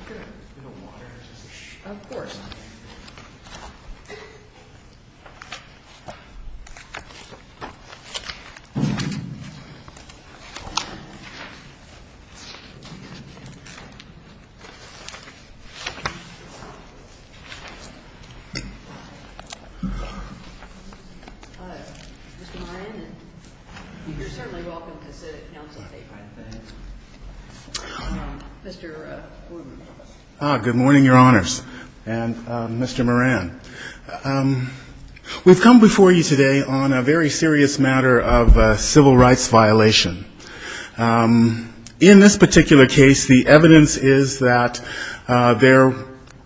Mr. Ryan, you're certainly welcome to sit at council today by the way. We've come before you today on a very serious matter of civil rights violation. In this particular case, the evidence is that there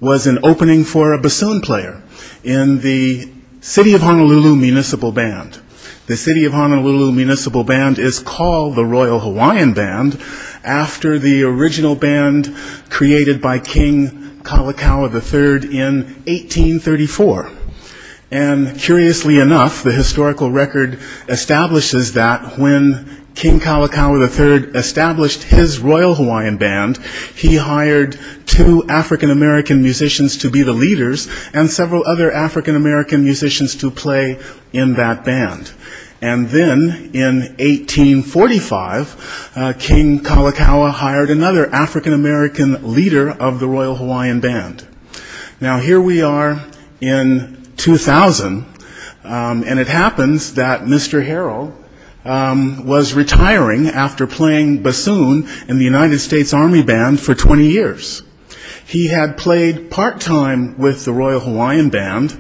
was an opening for a bassoon player in the City of Honolulu Municipal Band. The City of Honolulu Municipal Band is called the Royal Hawaiian Band after the original band created by King Kalakaua III in 1834. And curiously enough, the historical record establishes that when King Kalakaua III established his Royal Hawaiian Band, he hired two African American musicians to be the leaders and several other African American musicians to play in that band. And then in 1845, King Kalakaua hired another African American leader of the Royal Hawaiian Band. Now, here we are in 2000, and it happens that Mr. Harrell was retiring after playing bassoon in the United States Army Band for 20 years. He had played part-time with the Royal Hawaiian Band,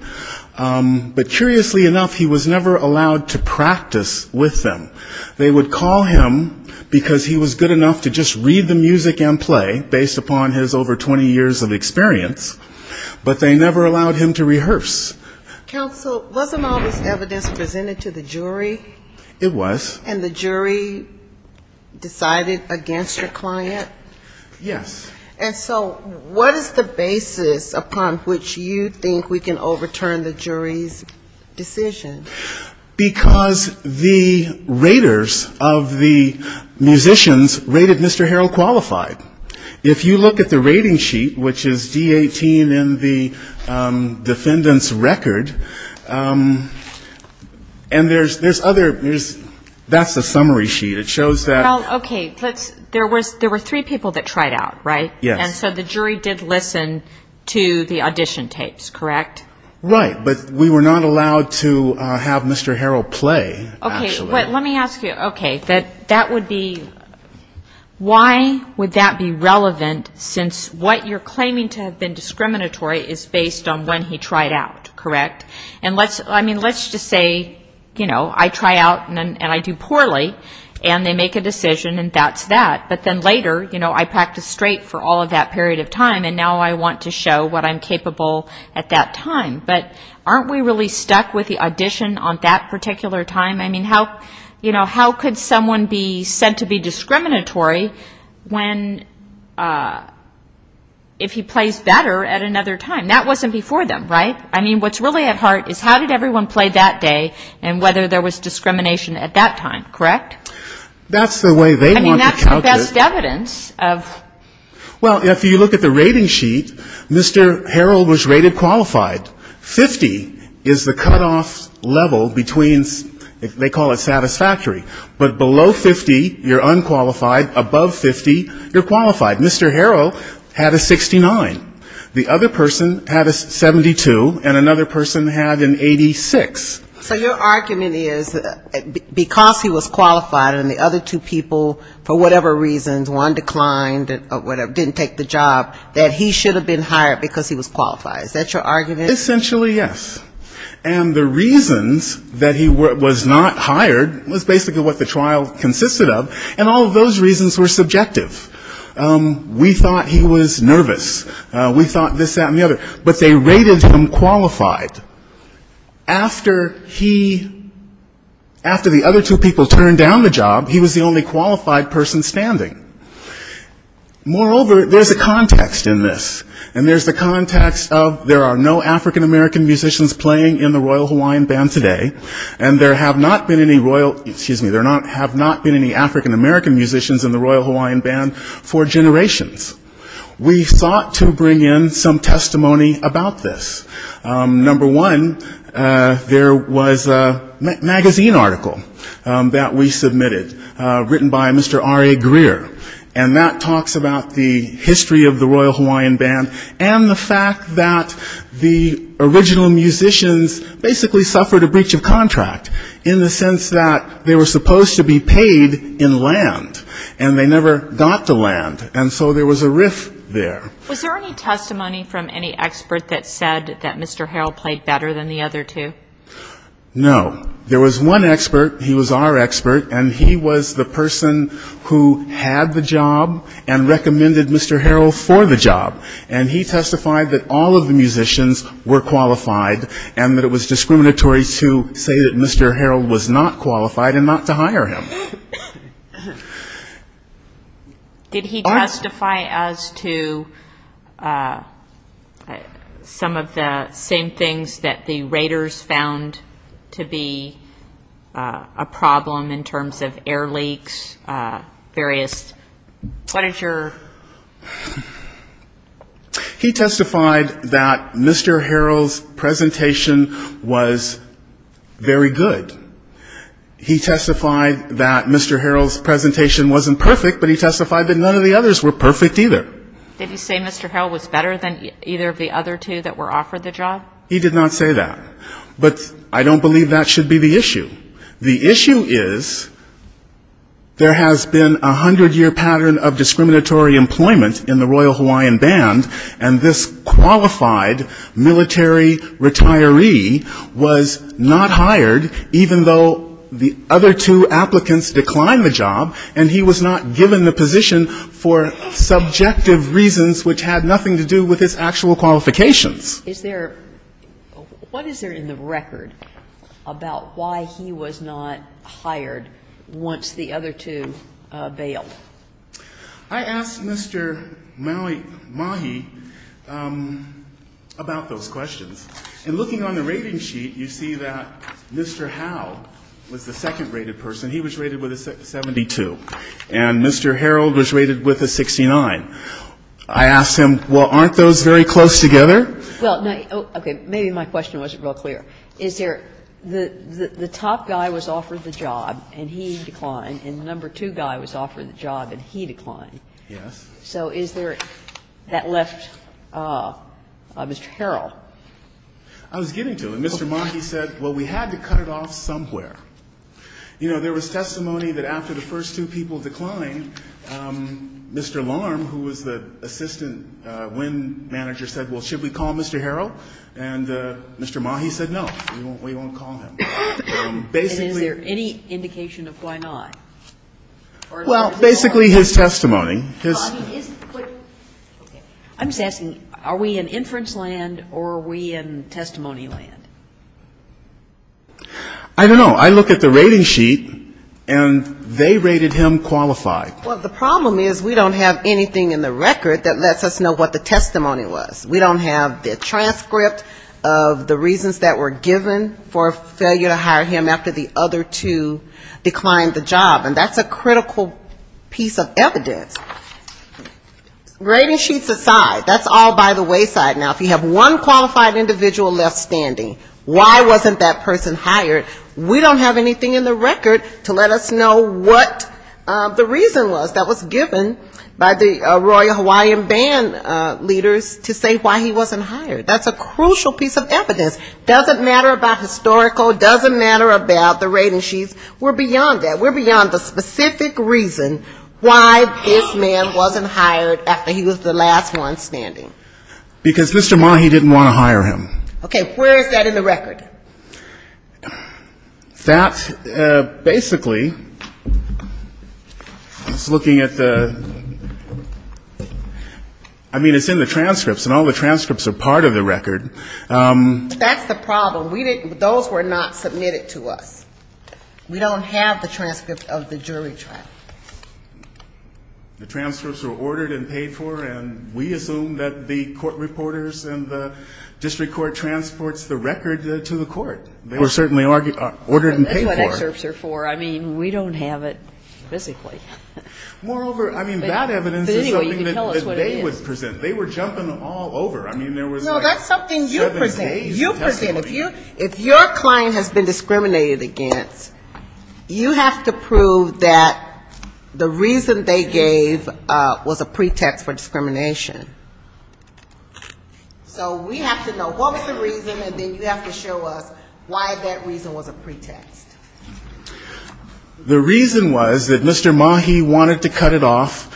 but curiously enough, he was never allowed to practice with them. They would call him because he was good enough to just read the music and play, based upon his over 20 years of experience, but they never allowed him to rehearse. And so what is the basis upon which you think we can overturn the jury's decision? Because the raters of the musicians rated Mr. Harrell qualified. If you look at the rating sheet, which is D-18 in the defendant's record, and there's other, that's the summary sheet. It shows that Well, okay, there were three people that tried out, right? And so the jury did listen to the audition tapes, correct? Right, but we were not allowed to have Mr. Harrell play, actually. Okay, that would be, why would that be relevant, since what you're claiming to have been discriminatory is based on when he tried out, correct? And let's just say, you know, I try out, and I do poorly, and they make a decision, and that's that, but then later, you know, I practice straight for all of that period of time, and now I want to show what I'm capable at that time, but aren't we really stuck with the audition on that particular time? I mean, how, you know, how could someone be said to be discriminatory when, if he plays better at another time? That wasn't before them, right? I mean, what's really at heart is how did everyone play that day, and whether there was discrimination at that time, correct? Well, if you look at the rating sheet, Mr. Harrell was rated qualified. 50 is the cutoff level between, they call it satisfactory, but below 50, you're unqualified, above 50, you're qualified. Mr. Harrell had a 69. The other person had a 72, and another person had an 86. So your argument is, because he was qualified, and the other two people, for whatever reasons, one declined, didn't take the job, that he should have been hired because he was qualified. Is that your argument? Essentially, yes. And the reasons that he was not hired was basically what the trial consisted of, and all of those reasons were subjective. We thought he was nervous. We thought this, that, and the other. But they rated him qualified. After he, after the other two people turned down the job, he was the only qualified person standing. Moreover, there's a context in this, and there's the context of there are no African-American musicians playing in the Royal Hawaiian Band today, and there have not been any African-American musicians in the Royal Hawaiian Band for generations. We thought to bring in some testimony about this. Number one, there was a magazine article that we submitted, written by Mr. Ari Greer. And that talks about the history of the Royal Hawaiian Band, and the fact that the original musicians basically suffered a breach of contract, in the sense that they were supposed to be paid in land, and they never got the land. And so there was a riff there. Was there any testimony from any expert that said that Mr. Harrell played better than the other two? No. There was one expert. He was our expert, and he was the person who had the job and recommended Mr. Harrell for the job. And he testified that all of the musicians were qualified, and that it was discriminatory to say that Mr. Harrell was not qualified and not to hire him. Did he testify as to some of the same things that the Raiders found to be a problem in terms of air leaks, various, what is your... He testified that Mr. Harrell's presentation was very good. He testified that Mr. Harrell's presentation wasn't perfect, but he testified that none of the others were perfect, either. Did he say Mr. Harrell was better than either of the other two that were offered the job? He did not say that. But I don't believe that should be the issue. The issue is there has been a hundred-year pattern of discriminatory employment in the Royal Hawaiian Band, and this qualified military retiree was not hired, even though the other two applicants declined the job, and he was not given the position for subjective reasons which had nothing to do with his actual qualifications. Is there, what is there in the record about why he was not hired once the other two bailed? I asked Mr. Mahi about those questions. And looking on the rating sheet, you see that Mr. Howe was the second-rated person. He was rated with a 72, and Mr. Harrell was rated with a 69. I asked him, well, aren't those very close together? Well, no. Okay. Maybe my question wasn't real clear. Is there the top guy was offered the job, and he declined, and the number two guy was offered the job, and he declined. Yes. So is there that left Mr. Harrell? I was getting to it. Mr. Mahi said, well, we had to cut it off somewhere. You know, there was testimony that after the first two people declined, Mr. Larm, who was the assistant WIN manager, said, well, should we call Mr. Harrell? And Mr. Mahi said, no, we won't call him. And basically he said, no, we won't call him. And is there any indication of why not? Well, basically his testimony. I'm just asking, are we in inference land or are we in testimony land? I don't know. I look at the rating sheet, and they rated him qualified. Well, the problem is we don't have anything in the record that lets us know what the testimony was. We don't have the transcript of the reasons that were given for failure to hire him after the other two declined the job. And that's a critical piece of evidence. Rating sheets aside, that's all by the wayside. Now, if you have one qualified individual left standing, why wasn't that person hired, we don't have anything in the record to let us know what the reason was that was given by the Royal Hawaiian Band leaders to say why he wasn't hired. That's a crucial piece of evidence. Doesn't matter about historical, doesn't matter about the rating sheets. We're beyond that. We're beyond the specific reason why this man wasn't hired after he was the last one standing. Because Mr. Mahi didn't want to hire him. Okay. Where is that in the record? That basically is looking at the, I mean, it's in the transcripts, and all the transcripts are part of the record. That's the problem. Those were not submitted to us. We don't have the transcript of the jury trial. The transcripts were ordered and paid for, and we assume that the court reporters and the district court transports the record to the court. Or certainly ordered and paid for. That's what excerpts are for. I mean, we don't have it physically. Moreover, I mean, that evidence is something that they would present. They were jumping all over. I mean, there was like seven days of testimony. If your claim has been discriminated against, you have to prove that the reason they gave was a pretext for discrimination. So we have to know what was the reason, and then you have to show us why that reason was a pretext. The reason was that Mr. Mahi wanted to cut it off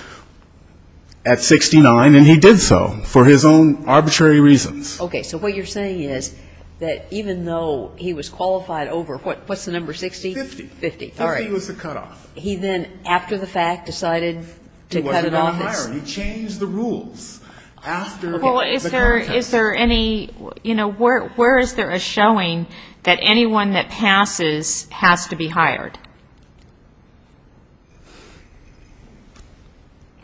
at 69, and he did so for his own arbitrary reasons. Okay, so what you're saying is that even though he was qualified over, what's the number, 60? Fifty. Fifty, all right. Fifty was the cutoff. He then, after the fact, decided to cut it off? He wasn't going to hire him. He changed the rules after the broadcast. Well, is there any, you know, where is there a showing that anyone that passes has to be hired?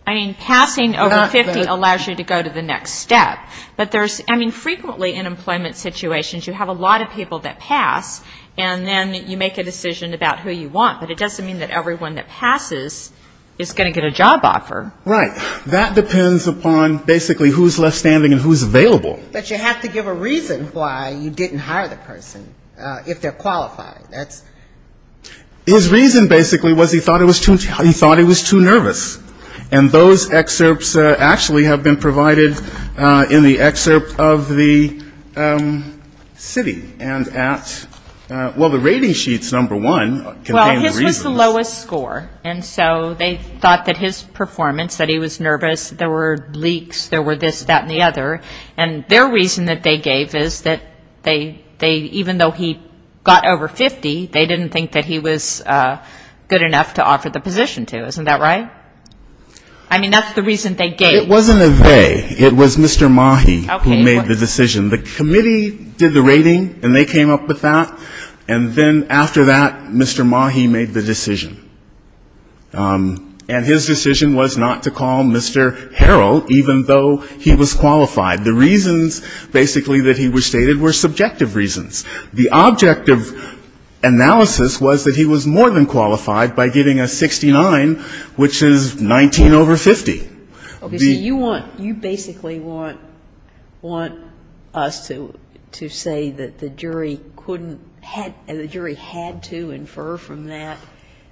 I mean, passing over 50 allows you to go to the next step. But there's, I mean, frequently in employment situations, you have a lot of people that pass, and then you make a decision about who you want, but it doesn't mean that everyone that passes is going to get a job offer. Right. That depends upon basically who's left standing and who's available. But you have to give a reason why you didn't hire the person, if they're qualified. His reason, basically, was he thought it was too nervous. And those excerpts actually have been provided in the excerpt of the city. And at, well, the rating sheets, number one, contain the reasons. Well, his was the lowest score. And so they thought that his performance, that he was nervous, there were leaks, there were this, that, and the other. And their reason that they gave is that they, even though he got over 50, they didn't think that he was good enough to offer the position to. Isn't that right? I mean, that's the reason they gave. It wasn't a they. It was Mr. Mahi who made the decision. The committee did the rating, and they came up with that. And then after that, Mr. Mahi made the decision. And his decision was not to call Mr. Harrell, even though he was qualified. The reasons, basically, that he was stated were subjective reasons. The objective analysis was that he was more than qualified by getting a 69, which is 19 over 50. Okay. So you want, you basically want us to say that the jury couldn't, the jury had to infer from that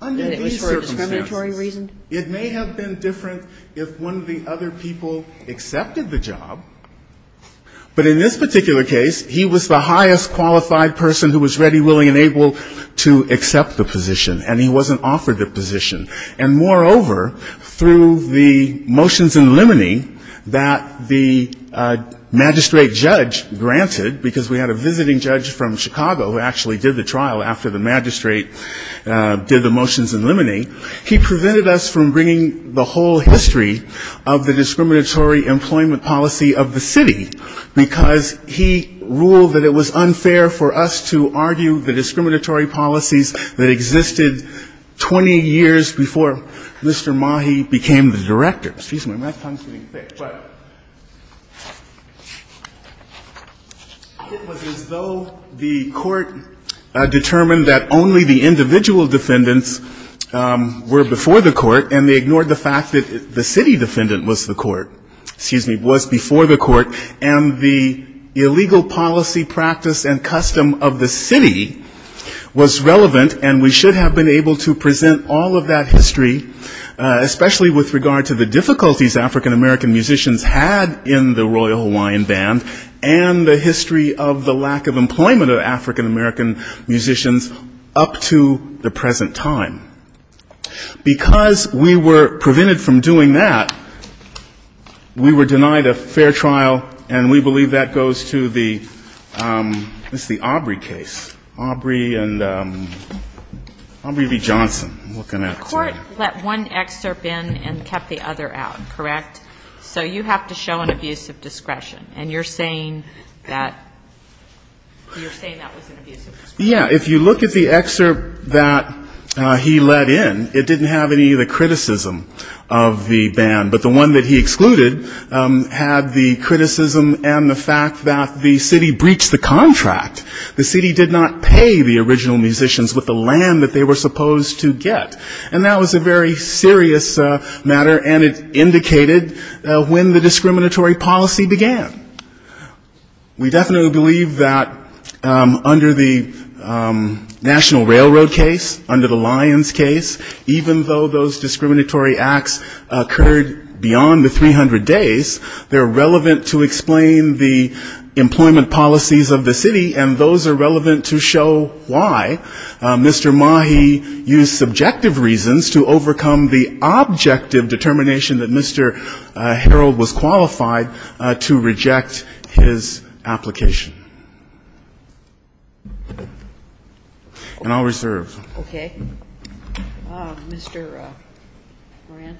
that it was for a discriminatory reason? It may have been different if one of the other people accepted the job, but in this particular case, he was the highest qualified person who was ready, willing, and able to accept the position. And he wasn't offered the position. And, moreover, through the motions and limiting that the magistrate judge granted, because we had a visiting judge from Chicago who actually did the trial after the magistrate did the motions and limiting, he prevented us from bringing the whole history of the discriminatory employment policy of the city, because he ruled that it was unfair for us to argue the discriminatory policies that existed 20 years before Mr. Mahi became the director. Excuse me, my tongue is getting thick. But it was as though the court determined that only the individual defendants were before the court, and they ignored the fact that the city defendant was the court, excuse me, was before the court, and the illegal policy practice and custom of the city was relevant, and we should have been able to present all of that history, especially with regard to the difficulties African-American musicians had in the Royal Hawaiian Band and the history of the lack of employment of African-American musicians up to the present time. Because we were prevented from doing that, we were denied a fair trial, and we believe that goes to the Aubrey case, Aubrey and Aubrey v. Johnson. The court let one excerpt in and kept the other out, correct? So you have to show an abuse of discretion, and you're saying that was an abuse of discretion. Yeah. If you look at the excerpt that he let in, it didn't have any of the criticism of the band, but the one that he excluded had the criticism and the fact that the city breached the contract. The city did not pay the original musicians with the land that they were supposed to get. And that was a very serious matter, and it indicated when the discriminatory policy began. We definitely believe that under the National Railroad case, under the Lyons case, even though those discriminatory acts occurred beyond the 300 days, they're relevant to explain the employment policies of the city, and those are relevant to show why Mr. Mahi used subjective reasons to overcome the objective determination that Mr. Harold was qualified to reject his application. And I'll reserve. Okay. Mr. Moran.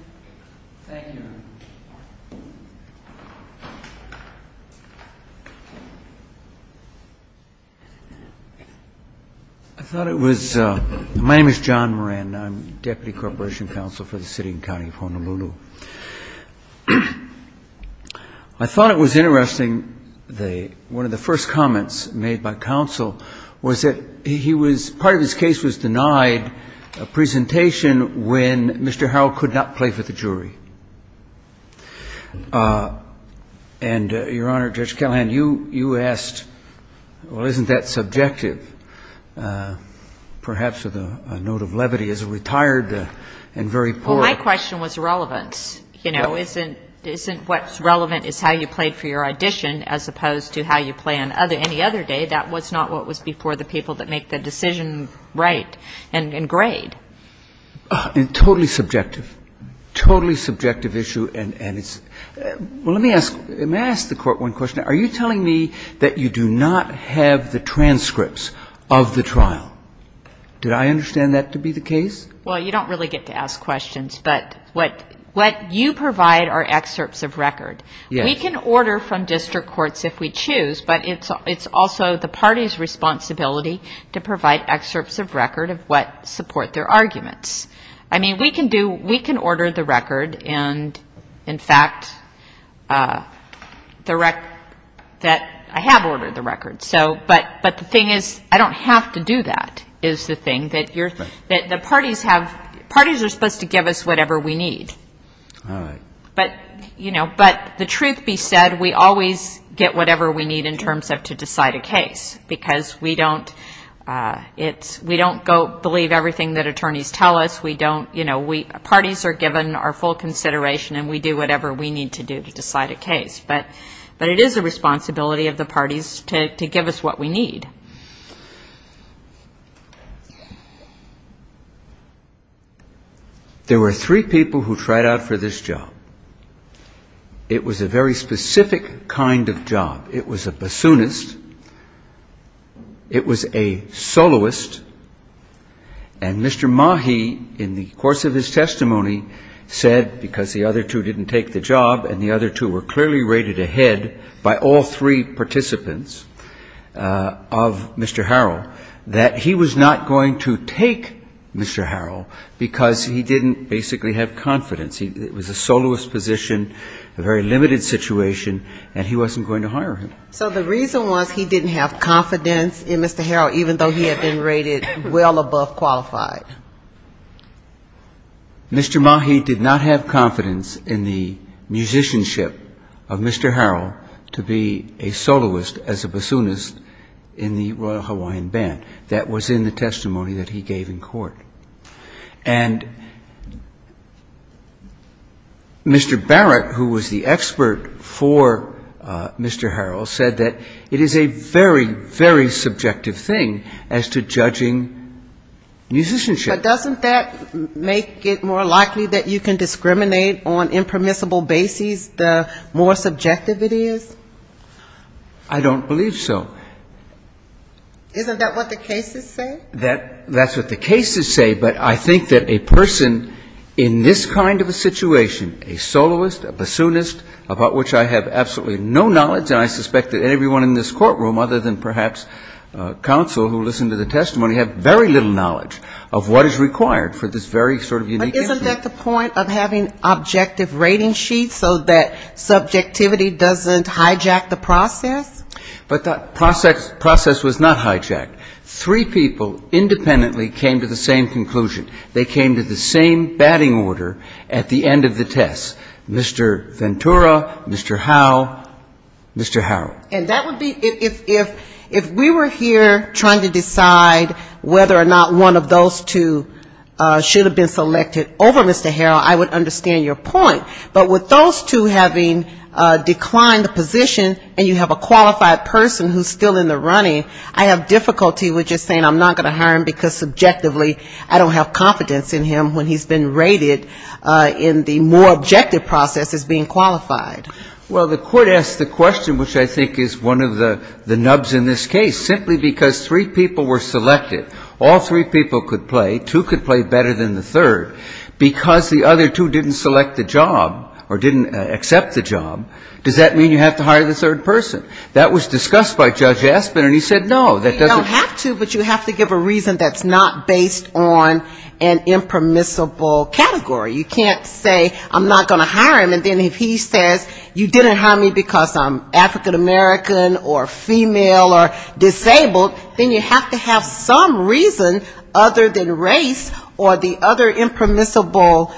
Thank you, Your Honor. I thought it was my name is John Moran. I'm deputy corporation counsel for the city and county of Honolulu. I thought it was interesting, one of the first comments made by counsel was that he was, part of his case was denied a presentation when Mr. Harold could not play for the jury. And, Your Honor, Judge Callahan, you asked, well, isn't that subjective, perhaps with a note of levity as a retired and very poor. Well, my question was relevance. You know, isn't what's relevant is how you played for your audition as opposed to how you play any other day. That was not what was before the people that make the decision right and grade. And totally subjective, totally subjective issue. And let me ask the court one question. Are you telling me that you do not have the transcripts of the trial? Did I understand that to be the case? Well, you don't really get to ask questions. But what you provide are excerpts of record. We can order from district courts if we choose, but it's also the party's responsibility to provide excerpts of record of what support their arguments. I mean, we can order the record and, in fact, the record that I have ordered the record. But the thing is I don't have to do that is the thing. Parties are supposed to give us whatever we need. But the truth be said, we always get whatever we need in terms of to decide a case. Because we don't go believe everything that attorneys tell us. We don't, you know, parties are given our full consideration and we do whatever we need to do to decide a case. But it is the responsibility of the parties to give us what we need. There were three people who tried out for this job. It was a very specific kind of job. It was a bassoonist. It was a soloist. And Mr. Mahi, in the course of his testimony, said, because the other two didn't take the job and the other two were clearly rated ahead by all three participants of Mr. Harrell, that he was not going to take Mr. Harrell because he didn't basically have confidence. It was a soloist position, a very limited situation, and he wasn't going to hire him. So the reason was he didn't have confidence in Mr. Harrell, even though he had been rated well above qualified. Mr. Mahi did not have confidence in the musicianship of Mr. Harrell to be a soloist as a bassoonist in the Royal Hawaiian Band. That was in the testimony that he gave in court. Mr. Barrett, who was the expert for Mr. Harrell, said that it is a very, very subjective thing as to judging musicianship. But doesn't that make it more likely that you can discriminate on impermissible bases the more subjective it is? I don't believe so. Isn't that what the cases say? That's what the cases say, but I think that a person in this kind of a situation, a soloist, a bassoonist, about which I have absolutely no knowledge, and I suspect that everyone in this courtroom, other than perhaps counsel who listened to the testimony, have very little knowledge of what is required for this very sort of unique instrument. But isn't that the point of having objective rating sheets so that subjectivity doesn't hijack the process? But that process was not hijacked. Three people independently came to the same conclusion. They came to the same batting order at the end of the test, Mr. Ventura, Mr. Howell, Mr. Harrell. And that would be, if we were here trying to decide whether or not one of those two should have been selected over Mr. Harrell, I would understand your point. But with those two having declined the position and you have a qualified person who's still in the running, I have difficulty with just saying I'm not going to hire him because subjectively I don't have confidence in him when he's been rated in the more objective process as being qualified. Well, the court asked the question, which I think is one of the nubs in this case, simply because three people were selected. All three people could play. And if one of them didn't get the job or didn't accept the job, does that mean you have to hire the third person? That was discussed by Judge Aspin, and he said no. You don't have to, but you have to give a reason that's not based on an impermissible category. You can't say I'm not going to hire him, and then if he says you didn't hire me because I'm African-American or female or disabled, then you have to have some reason other than race or the other impermissible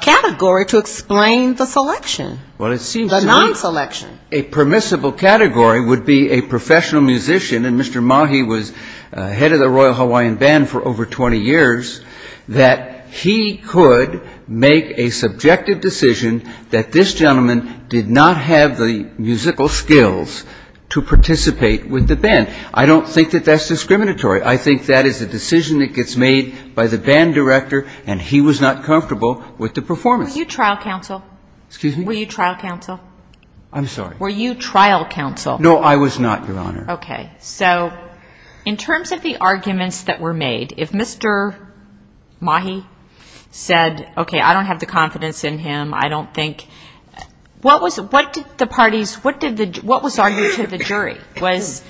category to explain why you didn't get the job. Well, it seems to me a permissible category would be a professional musician, and Mr. Mahi was head of the Royal Hawaiian Band for over 20 years, that he could make a subjective decision that this gentleman did not have the musical skills to participate with the band. I don't think that that's discriminatory. I think that is a decision that gets made by the band director and he was not comfortable with the performance. Were you trial counsel? No, I was not, Your Honor. Okay. So in terms of the arguments that were made, if Mr. Mahi said, okay, I don't have the confidence in him, I don't think, what did the parties, what was argued to the jury? Was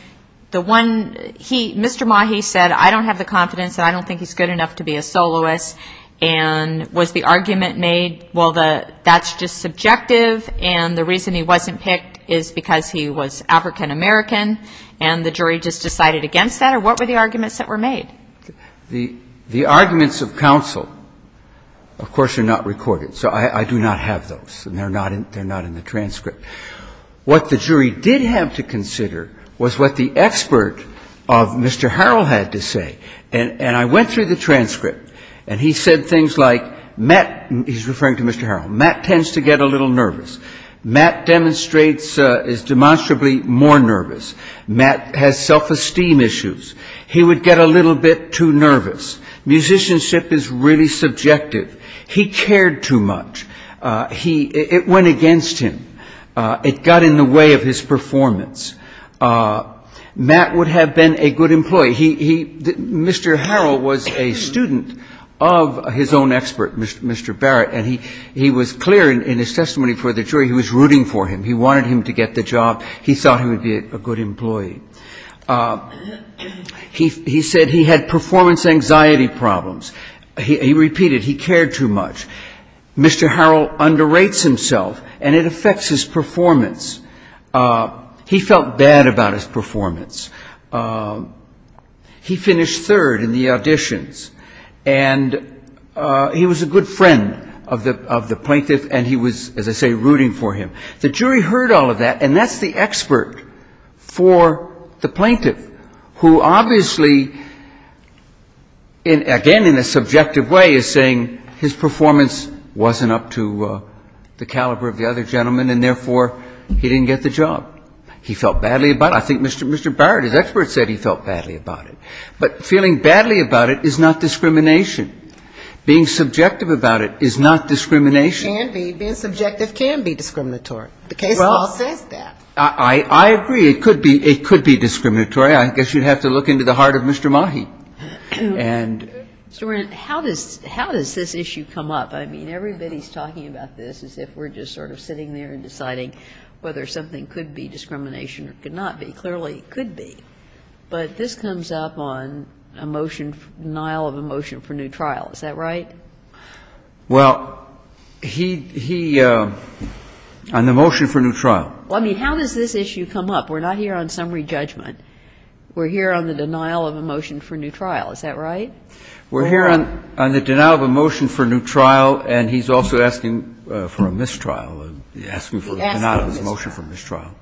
the one, he, Mr. Mahi said, I don't have the confidence and I don't think he's good enough to be a soloist, and was the argument made, well, that's just subjective, and the reason he wasn't picked is because he was African-American, and the jury just decided against that, or what were the arguments that were made? The arguments of counsel, of course, are not recorded, so I do not have those, and they're not in the transcript. What the jury did have to consider was what the expert of Mr. Harrell had to say, and I went through the transcript, and he said things like, Matt, he's referring to Mr. Harrell, Matt tends to get a little nervous. Matt demonstrates, is demonstrably more nervous. Matt has self-esteem issues. He would get a little bit too nervous. Musicianship is really subjective. He cared too much. It went against him. It got in the way of his performance. Matt would have been a good employee. Mr. Harrell was a student of his own expert, Mr. Barrett, and he was clear in his testimony for the jury, he was rooting for him. He wanted him to get the job. He thought he would be a good employee. He said he had performance anxiety problems. He repeated, he cared too much. Mr. Harrell underrates himself, and it affects his performance. He felt bad about his performance. He finished third in the auditions, and he was a good friend of the plaintiff, and he was, as I say, rooting for him. The jury heard all of that, and that's the expert for the plaintiff, who obviously, again, in a subjective way, is saying his performance wasn't up to the caliber of the other gentleman, and therefore, he didn't get the job. He felt badly about it. I think Mr. Barrett, his expert, said he felt badly about it. But feeling badly about it is not discrimination. Being subjective about it is not discrimination. Being subjective can be discriminatory. The case law says that. I agree. It could be discriminatory. I guess you'd have to look into the heart of Mr. Mahi. And so we're in how does, how does this issue come up? I mean, everybody's talking about this as if we're just sort of sitting there and deciding whether something could be discrimination or could not be. Clearly, it could be. But this comes up on a motion, denial of a motion for new trial. Is that right? Well, he, he, on the motion for new trial. Well, I mean, how does this issue come up? We're not here on summary judgment. We're here on the denial of a motion for new trial. Is that right? We're here on the denial of a motion for new trial, and he's also asking for a mistrial. He's asking for a denial of a motion for mistrial.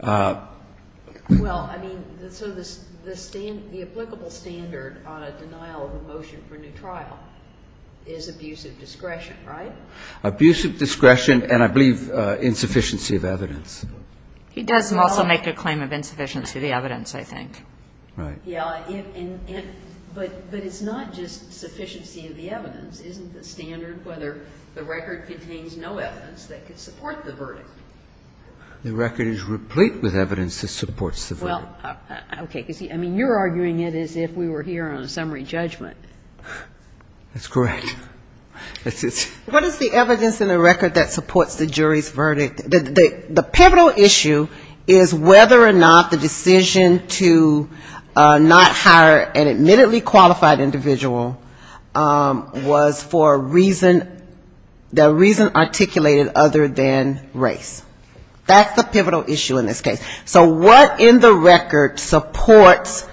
Well, I mean, so the standard, the applicable standard on a denial of a motion for new trial is abusive discretion, right? Abusive discretion and, I believe, insufficiency of evidence. He does also make a claim of insufficiency of the evidence, I think. Right. Yeah. But it's not just sufficiency of the evidence. Isn't the standard whether the record contains no evidence that could support the verdict? The record is replete with evidence that supports the verdict. Well, okay. Because, I mean, you're arguing it as if we were here on summary judgment. That's correct. What is the evidence in the record that supports the jury's verdict? The pivotal issue is whether or not the decision to not hire an admittedly qualified individual was for a reason, the reason articulated other than race. That's the pivotal issue in this case. So what in the record supports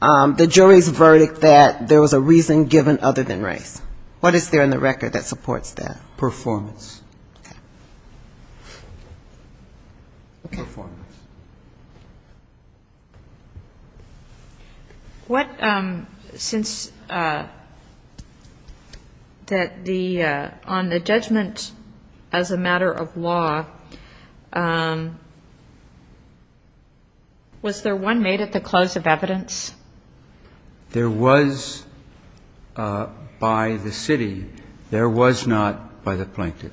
the jury's verdict that there was a reason given other than race? What is there in the record that supports that? Performance. Okay. Performance. What, since that the, on the judgment as a matter of law, was there one made at the close of evidence? There was by the city. There was not by the plaintiff.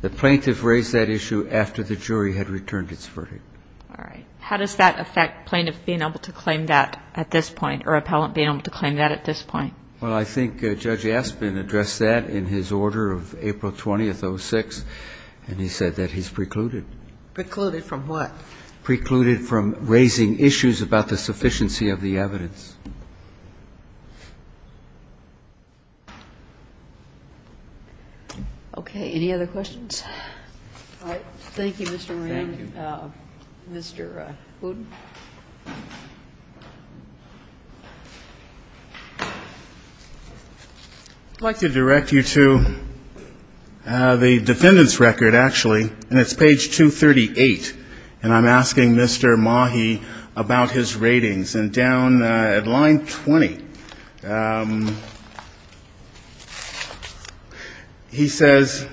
The plaintiff raised that issue after the jury had returned its verdict. All right. How does that affect plaintiff being able to claim that at this point, or appellant being able to claim that at this point? Well, I think Judge Aspin addressed that in his order of April 20th, 06, and he said that he's precluded. Precluded from what? Precluded from raising issues about the sufficiency of the evidence. Any other questions? I'd like to direct you to the defendant's record, actually, and it's page 238. And I'm asking Mr. Mahi about his ratings. And down at line 20, he says,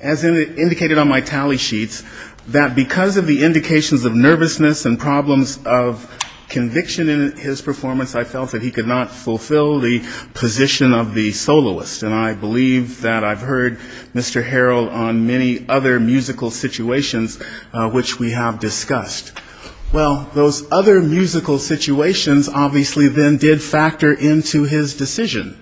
as indicated on my tally sheets, that because of the indications of nervousness and problems of conviction in his performance, I felt that he could not fulfill the position of the soloist. And I believe that I've heard Mr. Harrell on many other musical situations which we have discussed. Well, those other musical situations obviously then did factor into his decision.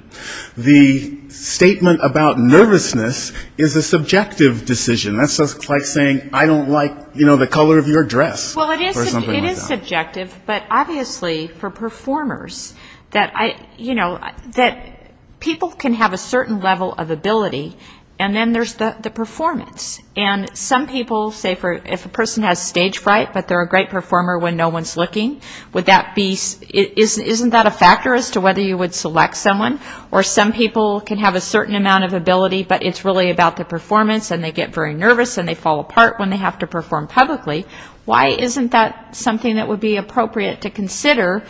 The statement about nervousness is a subjective decision. That's just like saying I don't like, you know, the color of your dress or something like that. Well, it is subjective, but obviously for performers that I, you know, that people can have a certain level of ability, and then there's the performance. And some people say if a person has stage fright, but they're a great performer when no one's looking, would that be, isn't that a factor as to whether you would select someone? Or some people can have a certain amount of ability, but it's really about the performance and they get very nervous and they fall apart when they have to perform publicly. Why isn't that something that would be appropriate to consider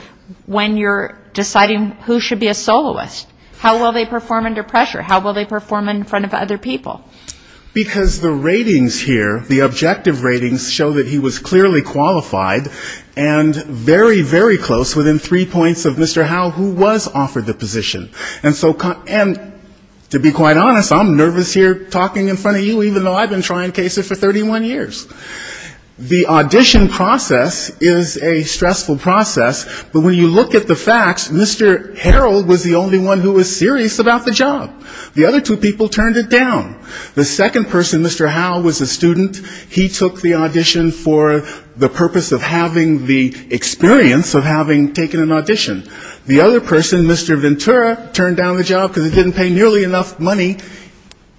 when you're deciding who should be a soloist? How will they perform under pressure? How will they perform in front of other people? Because the ratings here, the objective ratings show that he was clearly qualified and very, very close within three points of Mr. Howell who was offered the position. And to be quite honest, I'm nervous here talking in front of you even though I've been trying cases for 31 years. The audition process is a stressful process, but when you look at the facts, Mr. Harrell was the only one who was serious about the job. The other two people turned it down. The second person, Mr. Howell, was a student. He took the audition for the purpose of having the experience of having taken an audition. The other person, Mr. Ventura, turned down the job because he didn't pay nearly enough money.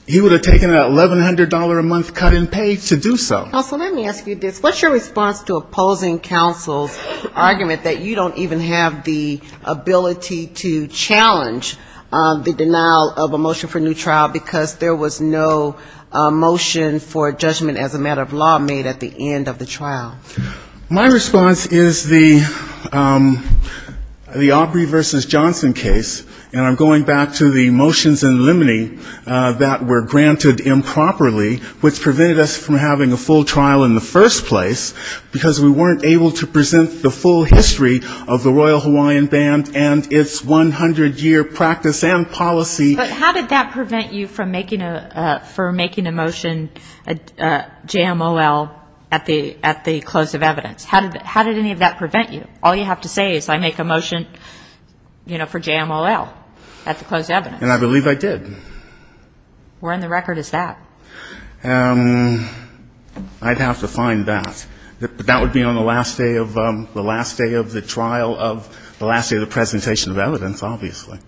He would have taken an $1,100-a-month cut in pay to do so. Counsel, let me ask you this. What's your response to opposing counsel's argument that you don't even have the ability to challenge the denial of a motion for new trial because there was no motion for judgment as a matter of law made at the end of the trial? My response is the Aubrey v. Johnson case, and I'm going back to the motions in limine that were granted improperly, which prevented us from having a full trial in the first place, because we weren't able to present the full history of the Royal Hawaiian Band and its 100-year practice and policy. But how did that prevent you from making a motion, JMOL, at the close of evidence? How did any of that prevent you? All you have to say is I make a motion for JMOL at the close of evidence. And I believe I did. Where in the record is that? I'd have to find that. That would be on the last day of the last day of the trial of the last day of the presentation of evidence, obviously.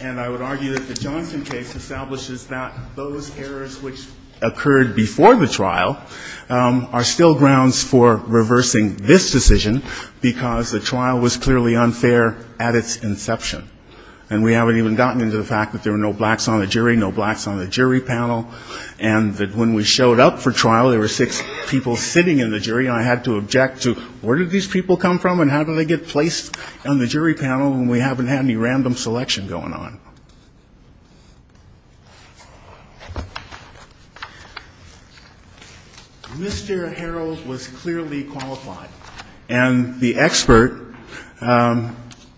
And I would argue that the Johnson case establishes that those errors which occurred before the trial are still grounds for reversing this decision because the trial was clearly unfair at its inception. And we haven't even gotten into the fact that there were no blacks on the jury, no blacks on the jury panel, and that when we showed up for trial, there were six people sitting in the jury, and I had to object to where did these people come from and how did they get placed on the jury panel when we haven't had any random selection going on? Mr. Harrell was clearly qualified, and the expert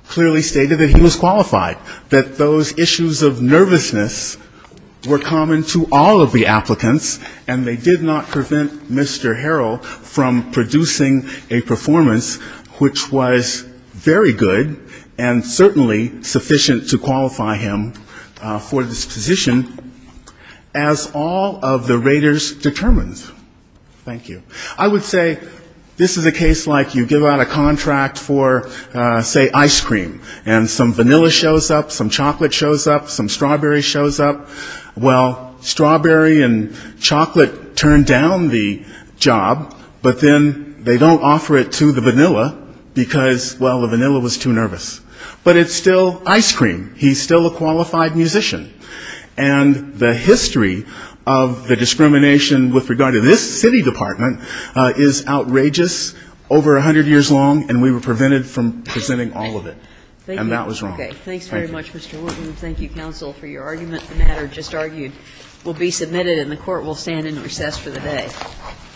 clearly stated that he was qualified, that those issues of nervousness were common to all of the applicants, and they did not prevent Mr. Harrell from producing a performance which was very good and certainly sufficient to qualify him for this position, as all of the raters determined. Thank you. I would say this is a case like you give out a contract for, say, ice cream, and some vanilla shows up, some chocolate shows up, some strawberry shows up, well, strawberry and chocolate turn down the job, but then they don't offer it to the vanilla because, well, the vanilla was too nervous. But it's still ice cream. He's still a qualified musician. And the history of the discrimination with regard to this city department is outrageous, over 100 years long, and we were prevented from presenting all of it. And that was wrong. Thank you.